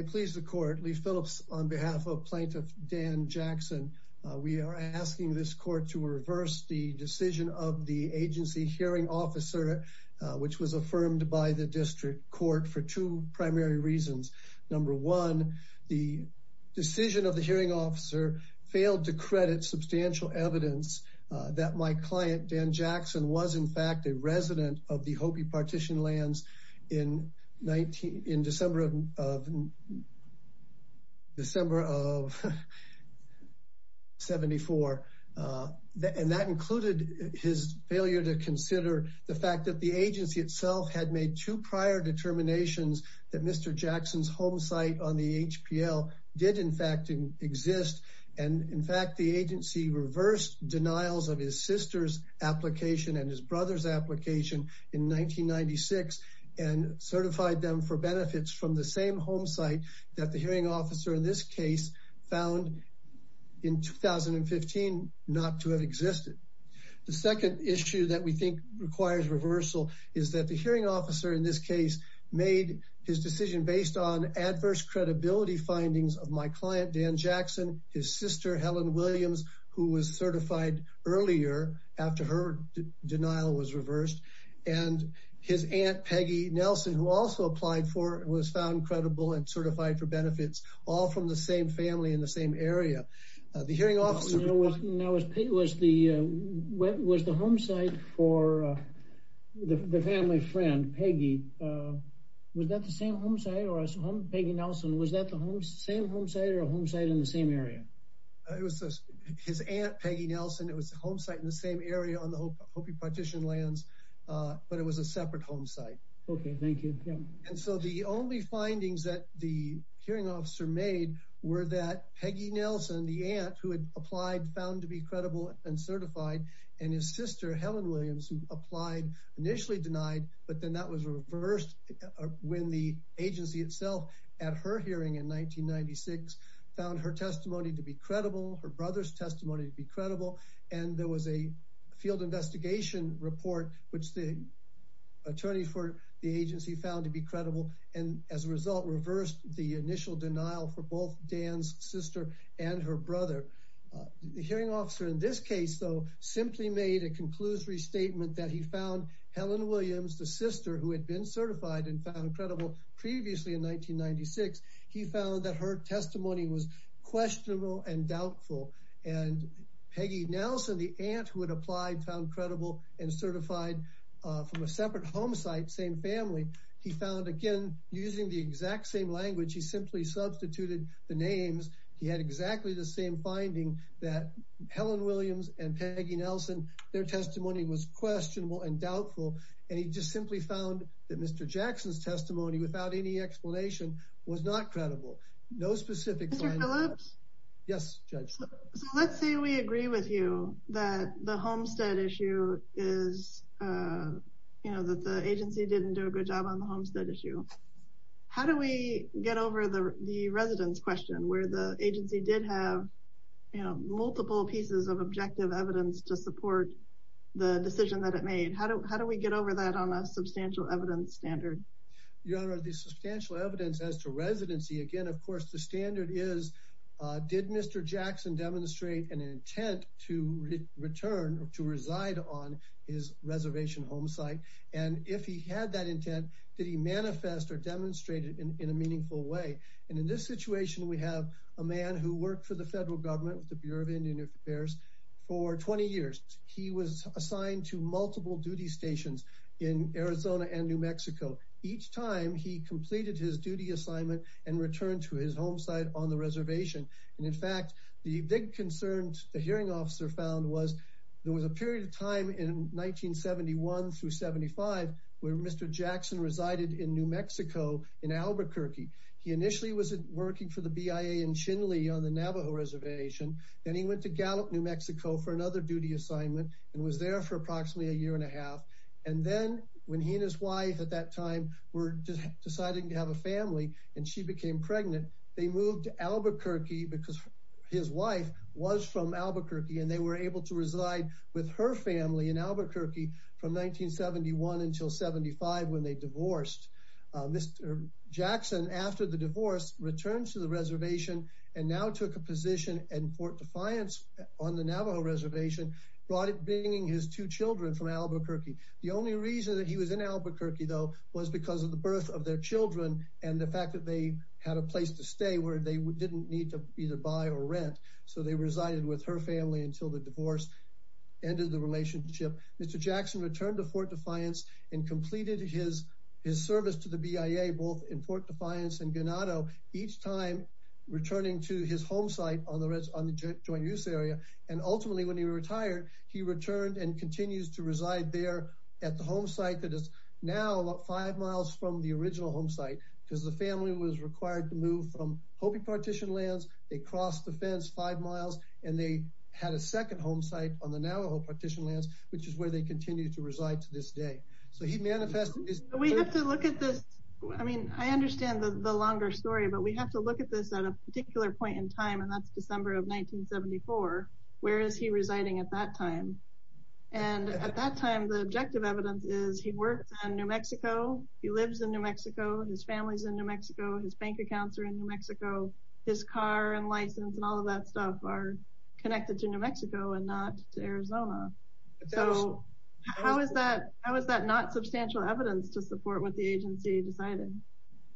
I please the court. Lee Phillips on behalf of plaintiff Dan Jackson. We are asking this court to reverse the decision of the agency hearing officer, which was affirmed by the district court for two primary reasons. Number one, the decision of the hearing officer failed to credit substantial evidence that my client, Dan Jackson, was in fact a resident of the December of 74. And that included his failure to consider the fact that the agency itself had made two prior determinations that Mr. Jackson's home site on the HPL did in fact exist. And in fact, the agency reversed denials of his sister's application and his brother's application in 1996 and certified them for benefits from the same home site that the hearing officer in this case found in 2015 not to have existed. The second issue that we think requires reversal is that the hearing officer in this case made his decision based on adverse credibility findings of my client, Dan Jackson, his sister, Helen Williams, who was certified earlier after her denial was his aunt, Peggy Nelson, who also applied for and was found credible and certified for benefits all from the same family in the same area. The hearing officer was the home site for the family friend, Peggy. Was that the same home site or Peggy Nelson? Was that the same home site or a home site in the same area? It was his aunt, Peggy Nelson. It was a home site in the same area on the Hopi partition lands, but it was a separate home site. Okay, thank you. And so the only findings that the hearing officer made were that Peggy Nelson, the aunt who had applied, found to be credible and certified, and his sister, Helen Williams, who applied initially denied, but then that was reversed when the agency itself at her hearing in 1996 found her testimony to be credible, her brother's testimony to be credible, and there was a field investigation report which the attorney for the agency found to be credible and as a result reversed the initial denial for both Dan's sister and her brother. The hearing officer in this case, though, simply made a conclusory statement that he found Helen Williams, the sister who had been certified and found credible previously in 1996, he found that her testimony was questionable and doubtful and Peggy Nelson, the aunt who had applied, found credible and certified from a separate home site, same family, he found again using the exact same language, he simply substituted the names. He had exactly the same finding that Helen Williams and Peggy Nelson, their testimony was questionable and doubtful and he just simply found that Mr. Jackson's testimony without any explanation was not credible. No specific finding. Mr. Phillips? Yes, Judge. So let's say we agree with you that the Homestead issue is, you know, that the agency didn't do a good job on the Homestead issue. How do we get over the residence question where the agency did have, you know, multiple pieces of objective evidence to support the decision that it made? How do we get over that on a substantial evidence standard? Your Honor, the substantial evidence as to residency, again, of course, the standard is, did Mr. Jackson demonstrate an intent to return or to reside on his reservation home site? And if he had that intent, did he manifest or demonstrate it in a meaningful way? And in this situation, we have a man who worked for the federal government with Bureau of Indian Affairs for 20 years. He was assigned to multiple duty stations in Arizona and New Mexico. Each time he completed his duty assignment and returned to his home site on the reservation. And in fact, the big concern the hearing officer found was there was a period of time in 1971 through 75 where Mr. Jackson resided in New Mexico in Albuquerque. He initially was working for the BIA in Chinle on the Navajo reservation. Then he went to Gallup, New Mexico for another duty assignment and was there for approximately a year and a half. And then when he and his wife at that time were deciding to have a family and she became pregnant, they moved to Albuquerque because his wife was from Albuquerque and they were able to reside with her family in Albuquerque. Mr. Jackson returned to the reservation and now took a position in Fort Defiance on the Navajo reservation, bringing his two children from Albuquerque. The only reason that he was in Albuquerque, though, was because of the birth of their children and the fact that they had a place to stay where they didn't need to either buy or rent. So they resided with her family until the divorce ended the relationship. Mr. Jackson returned to Fort Defiance and completed his service to BIA both in Fort Defiance and Ganado, each time returning to his home site on the joint use area. And ultimately, when he retired, he returned and continues to reside there at the home site that is now about five miles from the original home site because the family was required to move from Hopi partition lands. They crossed the fence five miles and they had a second home site on the Navajo partition lands, which is where they continue to reside to this day. So he manifested. We have to look at this. I mean, I understand the longer story, but we have to look at this at a particular point in time. And that's December of 1974. Where is he residing at that time? And at that time, the objective evidence is he works in New Mexico. He lives in New Mexico. His family's in New Mexico. His bank accounts are in New Mexico. His car and license and all of that stuff are connected to New Mexico and not to Arizona. So how is that not substantial evidence to support what the agency decided?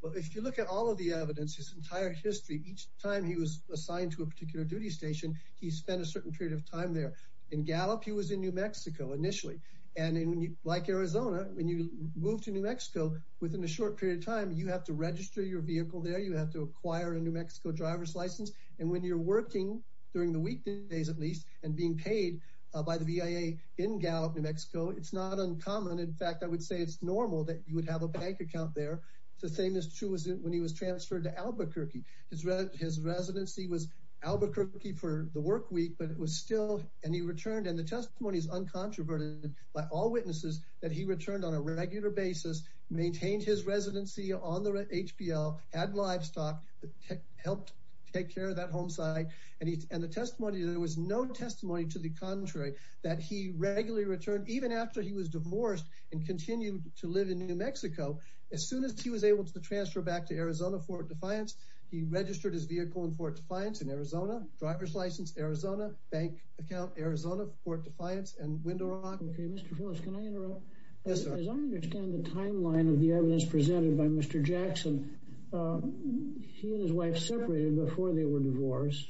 Well, if you look at all of the evidence, his entire history, each time he was assigned to a particular duty station, he spent a certain period of time there. In Gallup, he was in New Mexico initially. And like Arizona, when you move to New Mexico, within a short period of time, you have to register your vehicle there. You have to acquire a New Mexico driver's license. And when you're working during the weekdays, at least, and being paid by the VIA in Gallup, New Mexico, it's not uncommon. In fact, I would say it's normal that you would have a bank account there. The same is true when he was transferred to Albuquerque. His residency was Albuquerque for the work week, but it was still, and he returned. And the testimony is uncontroverted by all witnesses that he returned on a regular basis, maintained his residency on the HPL, had livestock, helped take care of that home site. And the testimony, there was no testimony to the contrary, that he regularly returned, even after he was divorced and continued to live in New Mexico. As soon as he was able to transfer back to Arizona, Fort Defiance, he registered his vehicle in Fort Defiance in Arizona, driver's license, Arizona, bank account, Arizona, Fort Defiance, and Window Rock. Okay, Mr. Phillips, can I interrupt? Yes, sir. As I understand the he and his wife separated before they were divorced,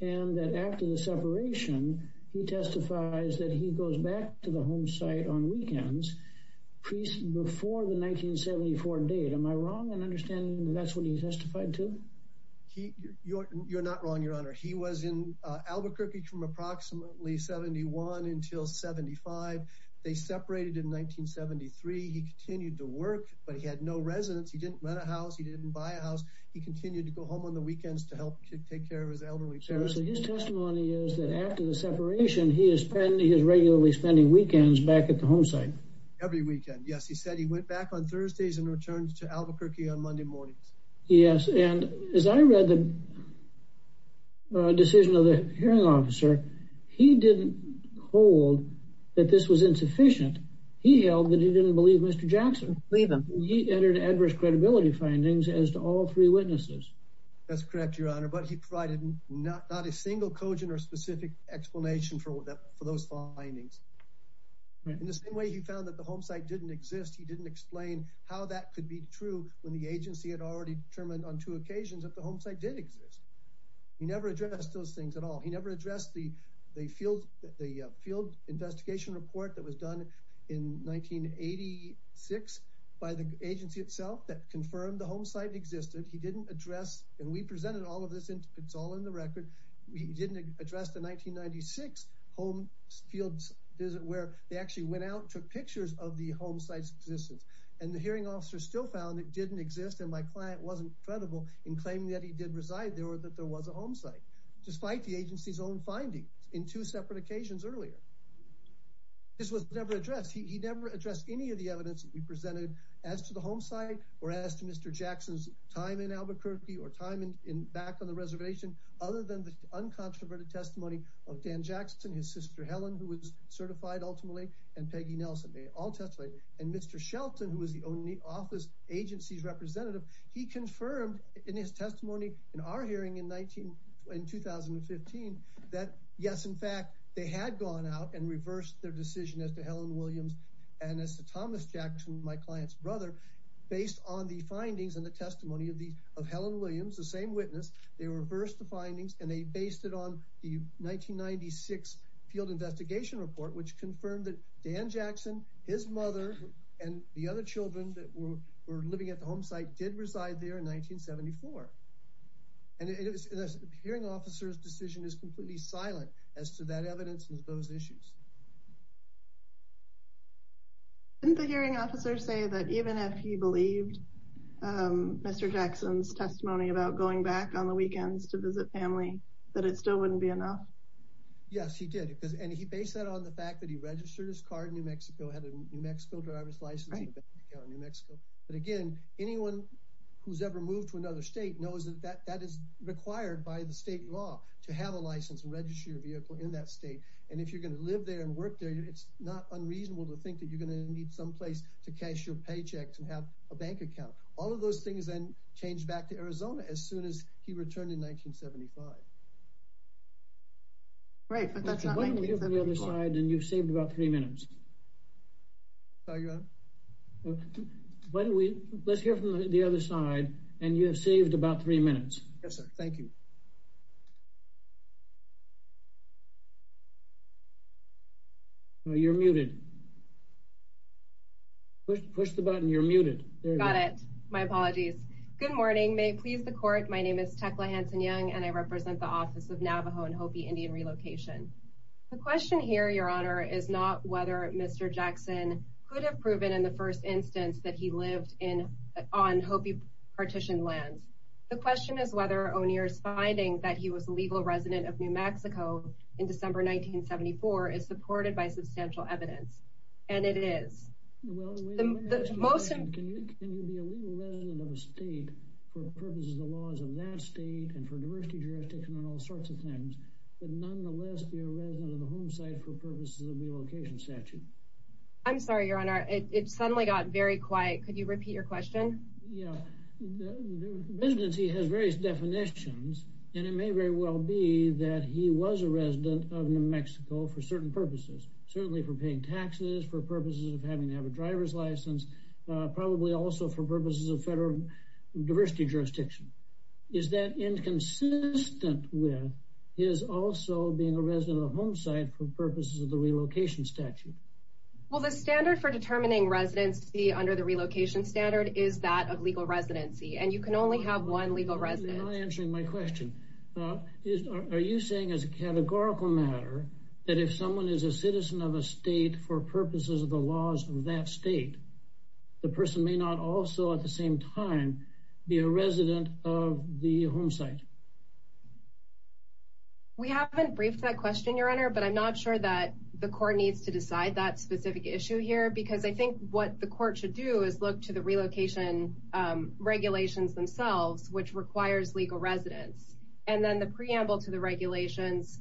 and that after the separation, he testifies that he goes back to the home site on weekends, before the 1974 date. Am I wrong in understanding that's what he testified to? You're not wrong, your honor. He was in Albuquerque from approximately 71 until 75. They separated in 1973. He continued to work, but he had no residence. He didn't rent a house. He didn't buy a house. He continued to go home on the weekends to help take care of his elderly parents. So his testimony is that after the separation, he is spending, he is regularly spending weekends back at the home site. Every weekend. Yes, he said he went back on Thursdays and returned to Albuquerque on Monday mornings. Yes, and as I read the decision of the hearing officer, he didn't hold that this was insufficient. He held that he didn't believe Mr. Jackson. He entered adverse credibility findings as to all three witnesses. That's correct, your honor. But he provided not a single cogent or specific explanation for those findings. In the same way he found that the home site didn't exist, he didn't explain how that could be true when the agency had already determined on two occasions that the home site did exist. He never addressed those things at all. He never addressed the field investigation report that was done in 1986 by the agency itself that confirmed the home site existed. He didn't address, and we presented all of this, it's all in the record. He didn't address the 1996 home field visit where they actually went out and took pictures of the home site's existence. And the hearing officer still found it didn't exist and my client wasn't credible in claiming that he did reside there or that there was a home site, despite the agency's own findings in two separate occasions earlier. This was never addressed. He never addressed any of the evidence that we presented as to the home site or as to Mr. Jackson's time in Albuquerque or time in back on the reservation, other than the uncontroverted testimony of Dan Jackson, his sister Helen, who was certified ultimately, and Peggy Nelson. They all testified. And Mr. Shelton, who was the only office agency's representative, he confirmed in his testimony in our hearing in 2015, that yes, in fact, they had gone out and reversed their decision as to Helen Williams and as to Thomas Jackson, my client's brother, based on the findings and the testimony of Helen Williams, the same witness. They reversed the findings and they based it on the 1996 field investigation report, which confirmed that Dan Jackson, his mother, and the other children that were living at the home site did reside there in 1974. And the hearing officer's decision is completely silent as to that evidence and those issues. Didn't the hearing officer say that even if he believed Mr. Jackson's testimony about going back on the weekends to visit family, that it still wouldn't be enough? Yes, he did. And he based that on the fact that he registered his car in New Mexico, had a New Mexico driver's license in New Mexico. But again, anyone who's ever moved to another state knows that that is required by the state law to have a license and register your vehicle in that state. And if you're going to live there and work there, it's not unreasonable to think that you're going to need someplace to cash your paychecks and have a bank account. All of those things then changed back to Arizona as soon as he returned in 1975. Right, but that's not 1975. Why don't we hear from the other side, and you've saved about three minutes. Sorry, Your Honor? Why don't we let's hear from the other side, and you have saved about three minutes. Yes, sir. Thank you. You're muted. Push the button. You're muted. Got it. My apologies. Good morning. May it please the court. My name is Tecla Hanson-Young, and I represent the Office of Navajo and Hopi Indian Relocation. The question here, is not whether Mr. Jackson could have proven in the first instance that he lived on Hopi partitioned lands. The question is whether O'Neill's finding that he was a legal resident of New Mexico in December 1974 is supported by substantial evidence, and it is. Well, can you be a legal resident of a state for purposes of the laws of that state and for the purposes of the relocation statute? I'm sorry, Your Honor. It suddenly got very quiet. Could you repeat your question? Yeah. The residency has various definitions, and it may very well be that he was a resident of New Mexico for certain purposes, certainly for paying taxes, for purposes of having to have a driver's license, probably also for purposes of federal diversity jurisdiction. Is that inconsistent with his also being a resident of the home site for purposes of the relocation statute? Well, the standard for determining residency under the relocation standard is that of legal residency, and you can only have one legal resident. You're not answering my question. Are you saying as a categorical matter that if someone is a citizen of a state for purposes of the laws of that state, the person may not also at the same time be a resident of the home site? We haven't briefed that question, Your Honor, but I'm not sure that the court needs to decide that specific issue here because I think what the court should do is look to the relocation regulations themselves, which requires legal residence, and then the preamble to the regulations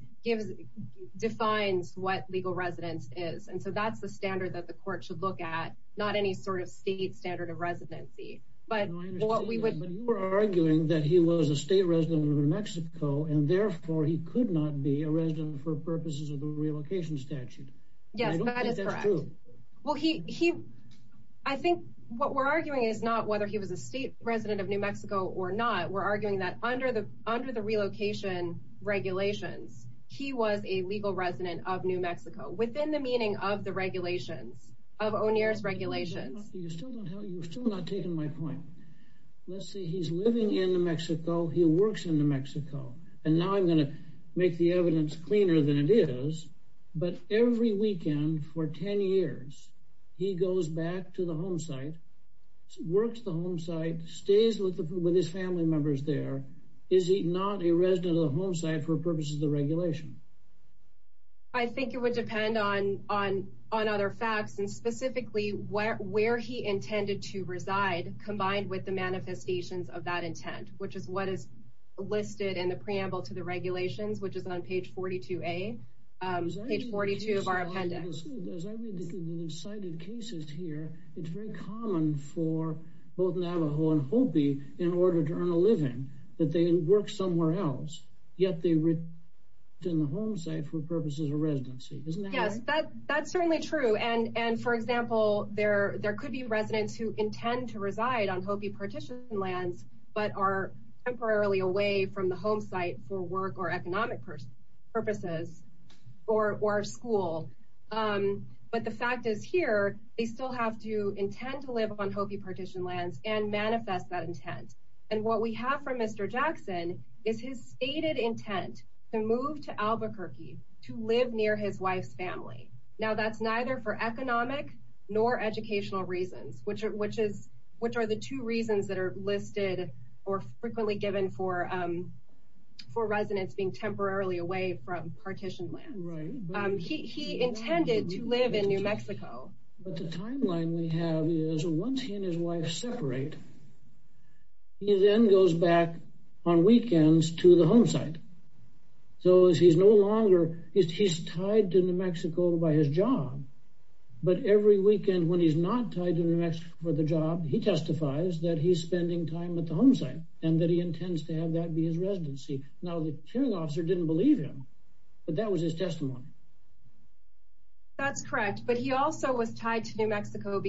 defines what legal residence is, and so that's the You were arguing that he was a state resident of New Mexico and therefore he could not be a resident for purposes of the relocation statute. Yes, that is correct. Well, I think what we're arguing is not whether he was a state resident of New Mexico or not. We're arguing that under the under the relocation regulations, he was a legal resident of New Mexico within the meaning of the Let's see. He's living in New Mexico. He works in New Mexico, and now I'm going to make the evidence cleaner than it is, but every weekend for 10 years, he goes back to the home site, works the home site, stays with his family members there. Is he not a resident of the home site for purposes of the regulation? I think it would depend on other facts and specifically where he intended to reside, combined with the manifestations of that intent, which is what is listed in the preamble to the regulations, which is on page 42A, page 42 of our appendix. As I read the cited cases here, it's very common for both Navajo and Hopi in order to earn a living that they work somewhere else, yet they work in the home site for purposes of residency, isn't that right? Yes, that's certainly true. And for example, there could be residents who intend to reside on Hopi partition lands but are temporarily away from the home site for work or economic purposes or school. But the fact is here, they still have to intend to live on Hopi partition lands and manifest that intent. And what we have from Mr. Jackson is his stated intent to move to Albuquerque to live near his wife's family. Now that's neither for economic nor educational reasons, which are the two reasons that are listed or frequently given for residents being temporarily away from partition lands. He intended to live in New Mexico. But the timeline we have is once he and his wife separate, he then goes back on weekends to the home site. So he's no longer, he's tied to New Mexico by his job. But every weekend when he's not tied to New Mexico for the job, he testifies that he's spending time at the home site and that he intends to have that be his residency. Now, the hearing officer didn't believe him. But that was his testimony. That's correct. But he also was tied to New Mexico.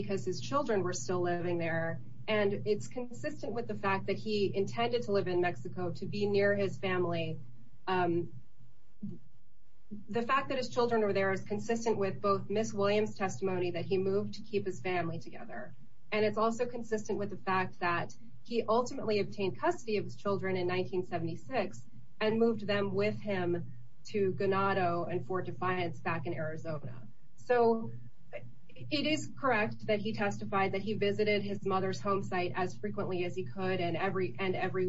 It's consistent with the fact that he intended to live in Mexico to be near his family. The fact that his children were there is consistent with both Ms. Williams' testimony that he moved to keep his family together. And it's also consistent with the fact that he ultimately obtained custody of his children in 1976 and moved them with him to Ganado and Fort Defiance back in Arizona. So it is correct that he testified that he visited his mother's home site as frequently as he could and every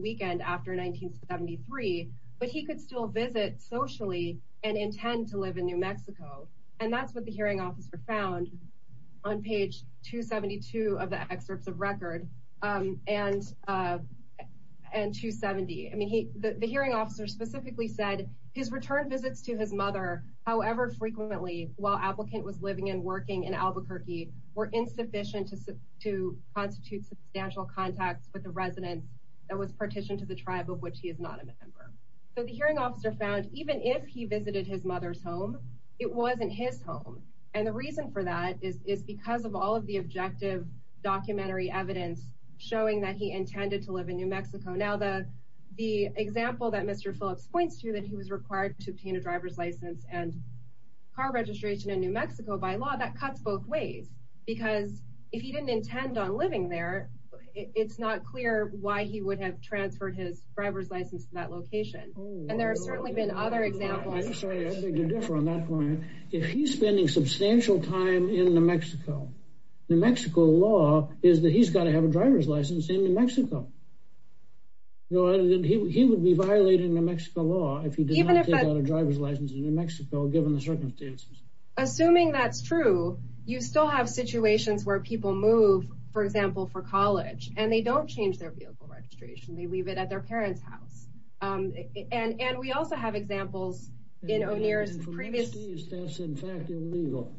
weekend after 1973. But he could still visit socially and intend to live in New Mexico. And that's what the hearing officer found on page 272 of the excerpts of record and 270. I mean, the hearing officer specifically said his return visits to his mother, however frequently, while applicant was living and working in Albuquerque were insufficient to constitute substantial contacts with a resident that was partitioned to the tribe of which he is not a member. So the hearing officer found even if he visited his mother's home, it wasn't his home. And the reason for that is because of all of the objective documentary evidence showing that he intended to live in New Mexico. Now, the example that Mr. Phillips points to that he was required to obtain a driver's license and car registration in New Mexico. Because if he didn't intend on living there, it's not clear why he would have transferred his driver's license to that location. And there have certainly been other examples. If he's spending substantial time in New Mexico, New Mexico law is that he's got to have a driver's license in New Mexico. He would be violating New Mexico law if he didn't have a driver's license in New Mexico, given the circumstances. Assuming that's true, you still have situations where people move, for example, for college and they don't change their vehicle registration. They leave it at their parents' house. And we also have examples in O'Neill's previous. That's in fact illegal.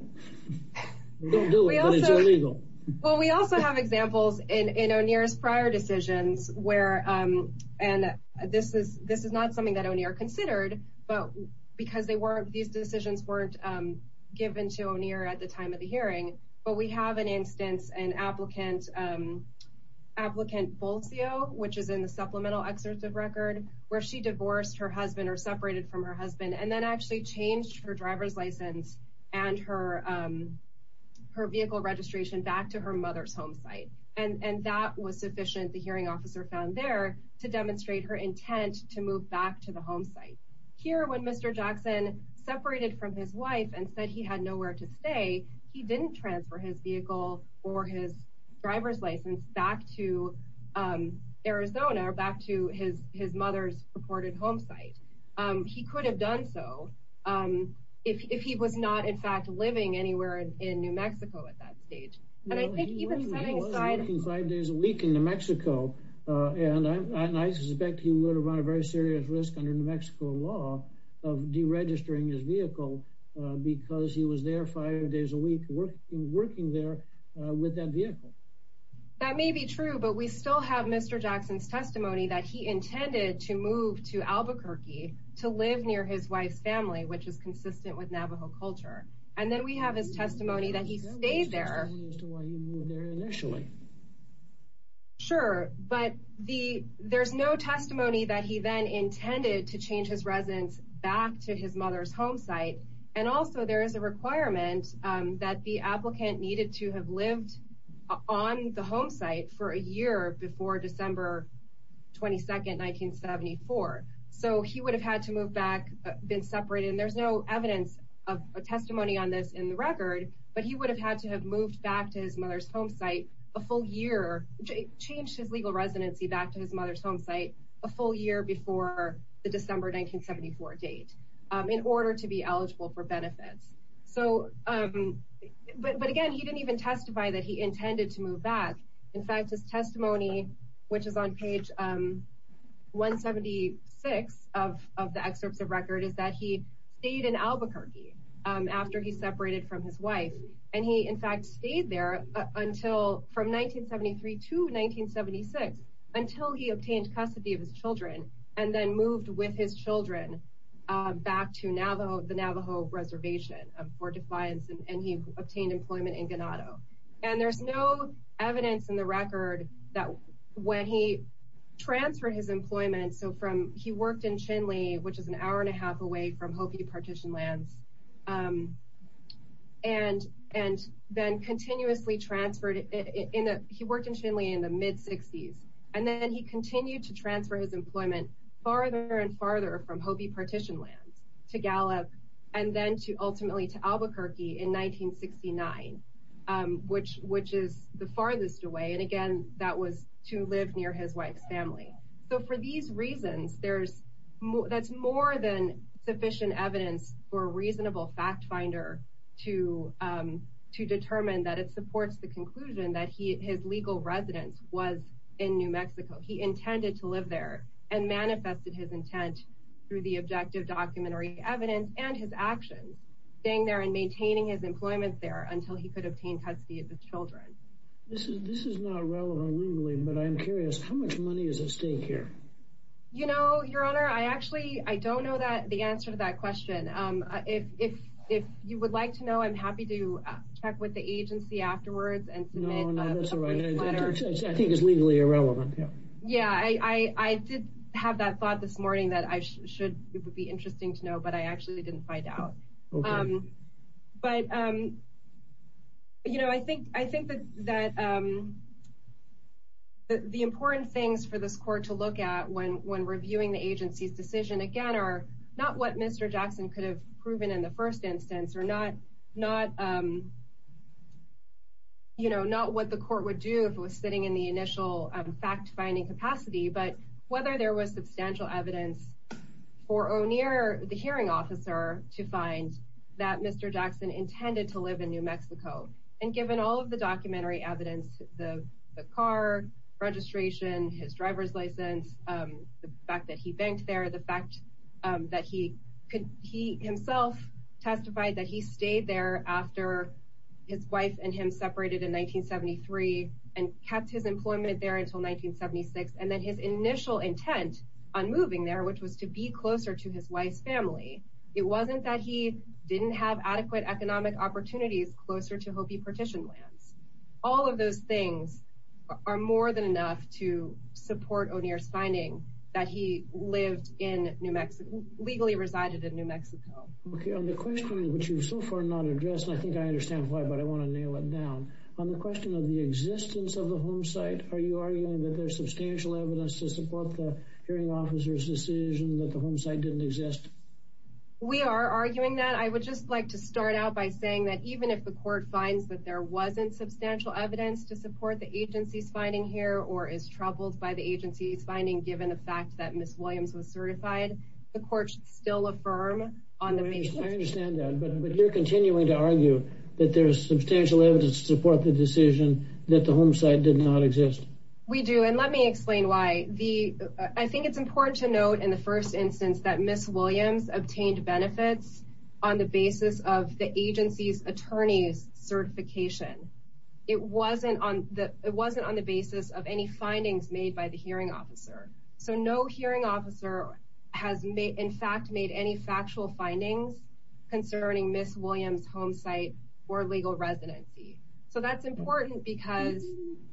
We don't do it, but it's illegal. Well, we also have examples in O'Neill's prior decisions where, and this is not something that O'Neill considered, but because these decisions weren't given to O'Neill at the time of the hearing. But we have an instance, an applicant, applicant Bolsio, which is in the supplemental excerpt of record where she divorced her husband or separated from her husband and then actually changed her driver's license and her vehicle registration back to her mother's home site. And that was sufficient, the hearing officer found there, to demonstrate her intent to move back to the home site. Here, when Mr. Jackson separated from his wife and said he had nowhere to stay, he didn't transfer his vehicle or his driver's license back to Arizona or back to his mother's purported home site. He could have done so if he was not, in fact, living anywhere in New Mexico at that stage. And I think even setting aside- And I suspect he would have run a very serious risk under New Mexico law of deregistering his vehicle because he was there five days a week working there with that vehicle. That may be true, but we still have Mr. Jackson's testimony that he intended to move to Albuquerque to live near his wife's family, which is consistent with Navajo culture. And then we have his testimony that he stayed there. You moved there initially. Sure, but there's no testimony that he then intended to change his residence back to his mother's home site. And also there is a requirement that the applicant needed to have lived on the home site for a year before December 22nd, 1974. So he would have had to move back, been separated, and there's no evidence of testimony on this in the record, but he would have had to have moved back to his mother's home site a full year, changed his legal residency back to his mother's home site a full year before the December 1974 date in order to be eligible for benefits. But again, he didn't even testify that he intended to move back. In fact, his testimony, which is on page 176 of the excerpts of record, is that he stayed in Albuquerque after he separated from his wife. And he, in fact, stayed there from 1973 to 1976 until he obtained custody of his children and then moved with his children back to the Navajo reservation for defiance, and he obtained employment in Ganado. And there's no evidence in the record that when he transferred his employment, so he worked in Hopi Partition Lands and then continuously transferred, he worked in Chile in the mid-60s, and then he continued to transfer his employment farther and farther from Hopi Partition Lands to Gallup and then to ultimately to Albuquerque in 1969, which is the farthest away. And again, that was to live near his wife's family. So for these reasons, that's more than sufficient evidence for a reasonable fact finder to determine that it supports the conclusion that his legal residence was in New Mexico. He intended to live there and manifested his intent through the objective documentary evidence and his actions, staying there and maintaining his employment there This is not relevant legally, but I'm curious, how much money is at stake here? You know, Your Honor, I actually, I don't know that the answer to that question. If you would like to know, I'm happy to check with the agency afterwards and submit a letter. I think it's legally irrelevant. Yeah, I did have that thought this morning that I should, it would be interesting to know, but I actually didn't find out. But, you know, I think that the important things for this court to look at when reviewing the agency's decision, again, are not what Mr. Jackson could have proven in the first instance or not what the court would do if it was sitting in the initial fact-finding capacity, but whether there was substantial evidence for O'Neill, the hearing officer, to find that Mr. Jackson intended to live in New Mexico. And given all of the documentary evidence, the car, registration, his driver's license, the fact that he banked there, the fact that he could, he himself testified that he stayed there after his wife and him separated in 1973 and kept his employment there until 1976. And then his initial intent on moving there, which was to be closer to his wife's family. It wasn't that he didn't have adequate economic opportunities closer to Hopi partition lands. All of those things are more than enough to support O'Neill's finding that he lived in New Mexico, legally resided in New Mexico. Okay. On the question, which you've so far not addressed, and I think I understand why, but I want to nail it down. On the question of the existence of the home site, are you arguing that there's substantial evidence to support the hearing officer's decision that the home site didn't exist? We are arguing that. I would just like to start out by saying that even if the court finds that there wasn't substantial evidence to support the agency's finding here, or is troubled by the agency's finding, given the fact that Ms. Williams was certified, the court should still affirm on the basis. I understand that, but you're continuing to argue that there's substantial evidence to support the decision that the home site did not exist. We do, and let me explain why. I think it's important to note in the first instance that Ms. Williams obtained benefits on the basis of the agency's attorney's certification. It wasn't on the basis of any findings made by the hearing officer. So no hearing officer has in fact made any factual findings concerning Ms. Williams' home site or legal residency. So that's important because...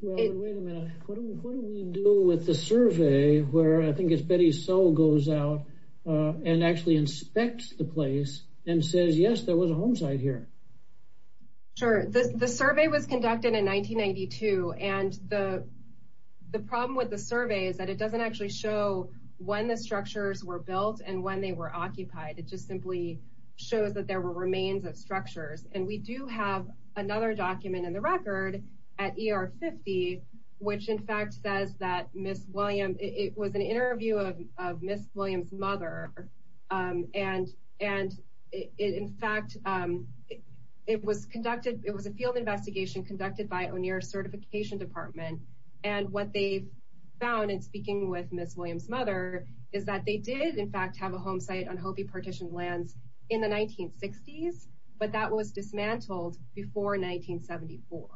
Wait a minute. What do we do with the survey where I think it's Betty So goes out and actually inspects the place and says, yes, there was a home site here? Sure. The survey was conducted in 1992, and the problem with the survey is that it doesn't actually show when the structures were built and when they were occupied. It just simply shows that there were remains of structures. And we do have another document in the record at ER50, which in fact says that Ms. Williams... It was an interview of Ms. Williams' mother, and in fact, it was a field investigation conducted by O'Neill Certification Department. And what they found in speaking with Ms. Williams' mother is that they did in fact have a home site on Hopi partition lands in the 1960s, but that was dismantled before 1974.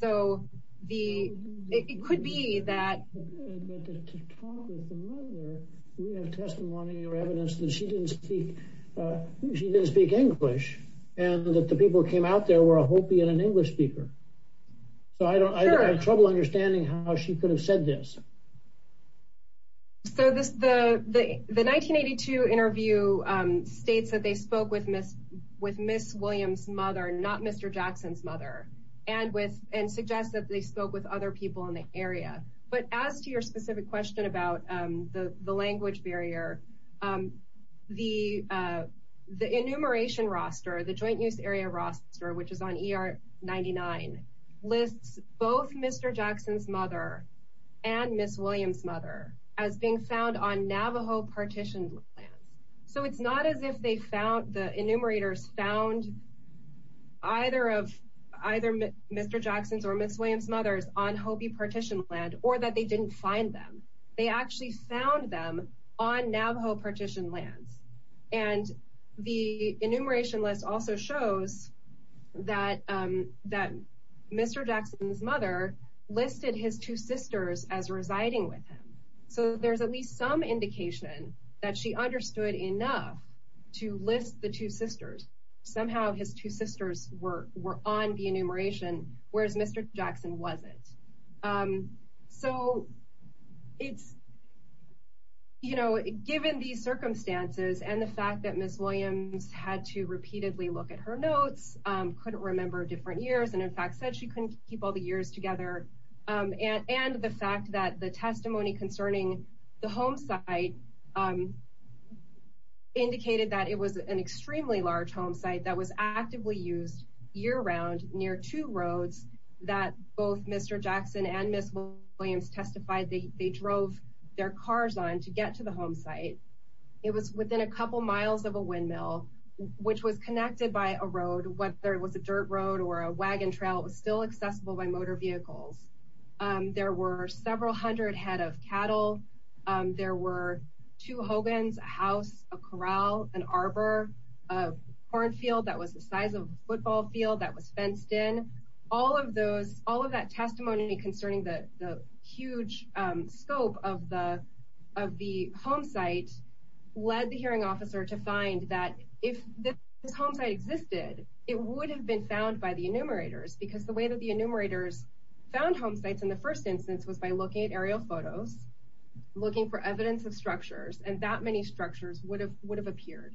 So it could be that... But to talk with the mother, we have testimony or evidence that she didn't speak English, and that the people who came out there were a Hopi and an English speaker. So I have trouble understanding how she could have said this. So the 1982 interview states that they spoke with Ms. Williams' mother, not Mr. Jackson's mother, and suggests that they spoke with other people in the area. But as to your specific question about the language barrier, the enumeration roster, the joint use area roster, which is on ER99, lists both Mr. Jackson's mother and Ms. Williams' mother as being found on Navajo partition lands. So it's not as if the enumerators found either Mr. Jackson's or Ms. Williams' mothers on Hopi partition land, or that they didn't find them. They actually found them on Navajo partition lands. And the enumeration list also shows that Mr. Jackson's mother listed his two sisters as residing with him. So there's at least some indication that she understood enough to list the two sisters. Somehow his two sisters were on the enumeration, whereas Mr. Jackson wasn't. So it's, you know, given these circumstances and the fact that Ms. Williams had to repeatedly look at her notes, couldn't remember different years, and in fact said she couldn't keep all the years together. And the fact that the testimony concerning the home site indicated that it was an extremely large home site that was actively used year-round near two roads that both Mr. Jackson and Ms. Williams testified they drove their cars on to get to the home site. It was within a couple miles of a windmill, which was connected by a road, whether it was a dirt road or a wagon trail, it was still accessible by motor vehicles. There were several hundred head of cattle. There were two hogans, a house, a corral, an arbor, a cornfield that was the size of a barn. All of that testimony concerning the huge scope of the home site led the hearing officer to find that if this home site existed, it would have been found by the enumerators because the way that the enumerators found home sites in the first instance was by looking at aerial photos, looking for evidence of structures, and that many structures would have appeared,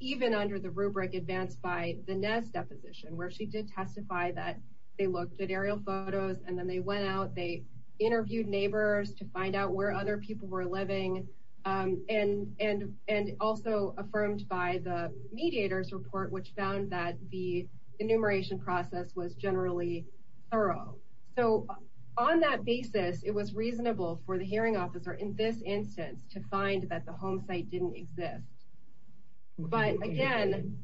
even under the rubric advanced by the Nez deposition, where she did testify that they looked at aerial photos and then they went out, they interviewed neighbors to find out where other people were living, and also affirmed by the mediators report, which found that the enumeration process was generally thorough. So on that basis, it was reasonable for the hearing officer in this instance to find that the home site didn't exist. But again,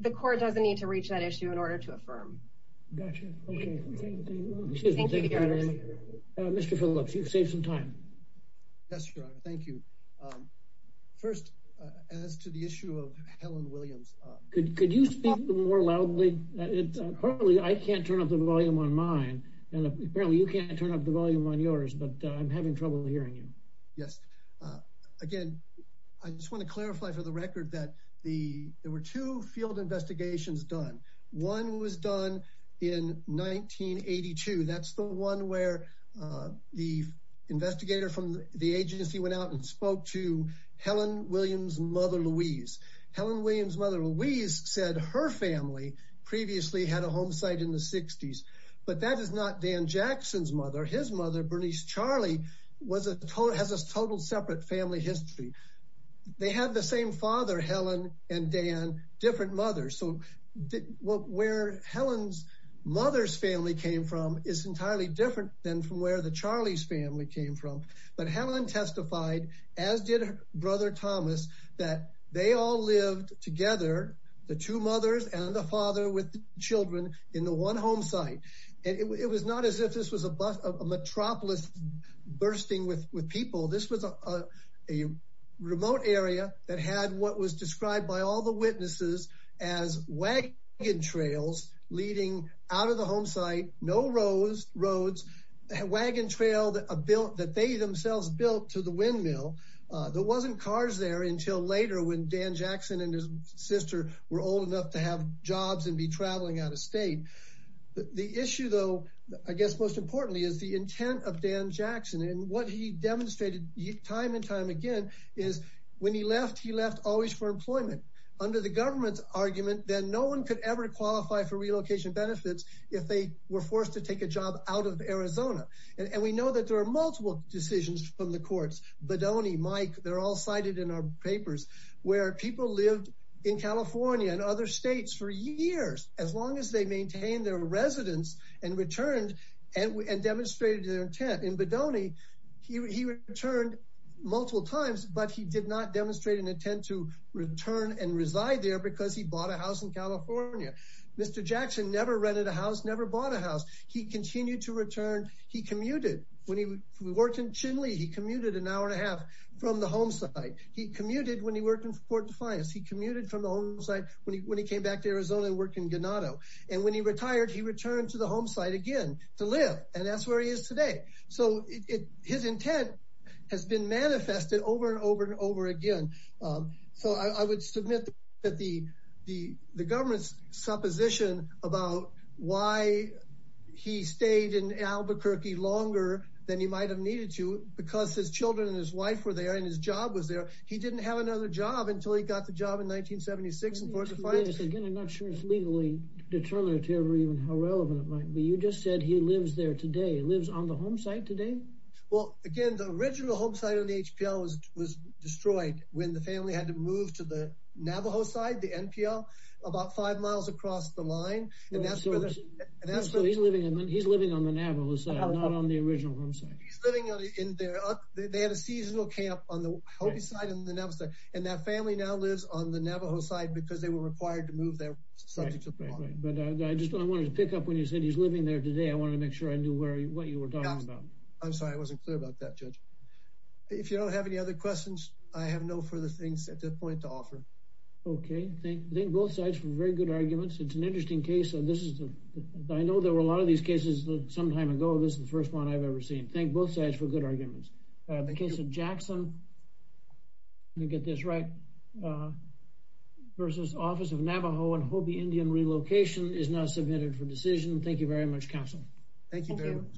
the court doesn't need to reach that issue in order to affirm. Mr. Phillips, you've saved some time. Yes, Your Honor. Thank you. First, as to the issue of Helen Williams. Could you speak more loudly? Partly, I can't turn up the volume on mine, and apparently you can't turn up the volume on yours, but I'm having trouble hearing you. Yes. Again, I just want to clarify for the record that there were two field investigations done. One was done in 1982. That's the one where the investigator from the agency went out and spoke to Helen Williams' mother Louise. Helen Williams' mother Louise said her family previously had a Dan Jackson's mother. His mother, Bernice Charlie, has a total separate family history. They had the same father, Helen and Dan, different mothers. So where Helen's mother's family came from is entirely different than from where the Charlie's family came from. But Helen testified, as did her brother Thomas, that they all lived together, the two mothers and the father with children in the one home site. And it was not as if this was a metropolis bursting with people. This was a remote area that had what was described by all the witnesses as wagon trails leading out of the home site, no roads, wagon trail that they themselves built to the windmill. There wasn't cars there until later when Dan Jackson and his sister were old enough to have jobs and be traveling out of state. The issue, though, I guess most importantly, is the intent of Dan Jackson. And what he demonstrated time and time again is when he left, he left always for employment. Under the government's argument, then no one could ever qualify for relocation benefits if they were forced to take a job out of Arizona. And we know that there are multiple decisions from the courts. Badoni, Mike, they're all cited in our papers where people lived in California and other states for years as long as they maintained their residence and returned and demonstrated their intent. In Badoni, he returned multiple times, but he did not demonstrate an intent to return and reside there because he bought a house in California. Mr. Jackson never rented a house, never bought a house. He continued to return. He commuted. When he worked in Chinle, he commuted an hour and a half from the home site. He commuted when he worked in Fort Defiance. He commuted from when he came back to Arizona and worked in Ganado. And when he retired, he returned to the home site again to live. And that's where he is today. So his intent has been manifested over and over and over again. So I would submit that the government's supposition about why he stayed in Albuquerque longer than he might have needed to because his children and his wife were there and his job was until he got the job in 1976 in Fort Defiance. Again, I'm not sure it's legally determined or even how relevant it might be. You just said he lives there today. He lives on the home site today. Well, again, the original home site on the HPL was destroyed when the family had to move to the Navajo side, the NPL, about five miles across the line. And that's where he's living. He's living on the Navajo side, not on the original home site. He's living in there. They had a seasonal camp on the Hopi side and the Navajo side. And that family now lives on the Navajo side because they were required to move there. But I just wanted to pick up when you said he's living there today. I want to make sure I knew what you were talking about. I'm sorry, I wasn't clear about that, Judge. If you don't have any other questions, I have no further things at this point to offer. Okay. Thank both sides for very good arguments. It's an interesting case. I know there were a lot of these cases some time ago. This is the first one I've ever seen. Thank both sides for good arguments. The case of Jackson, let me get this right, versus Office of Navajo and Hopi Indian Relocation is now submitted for decision. Thank you very much, counsel. Thank you very much.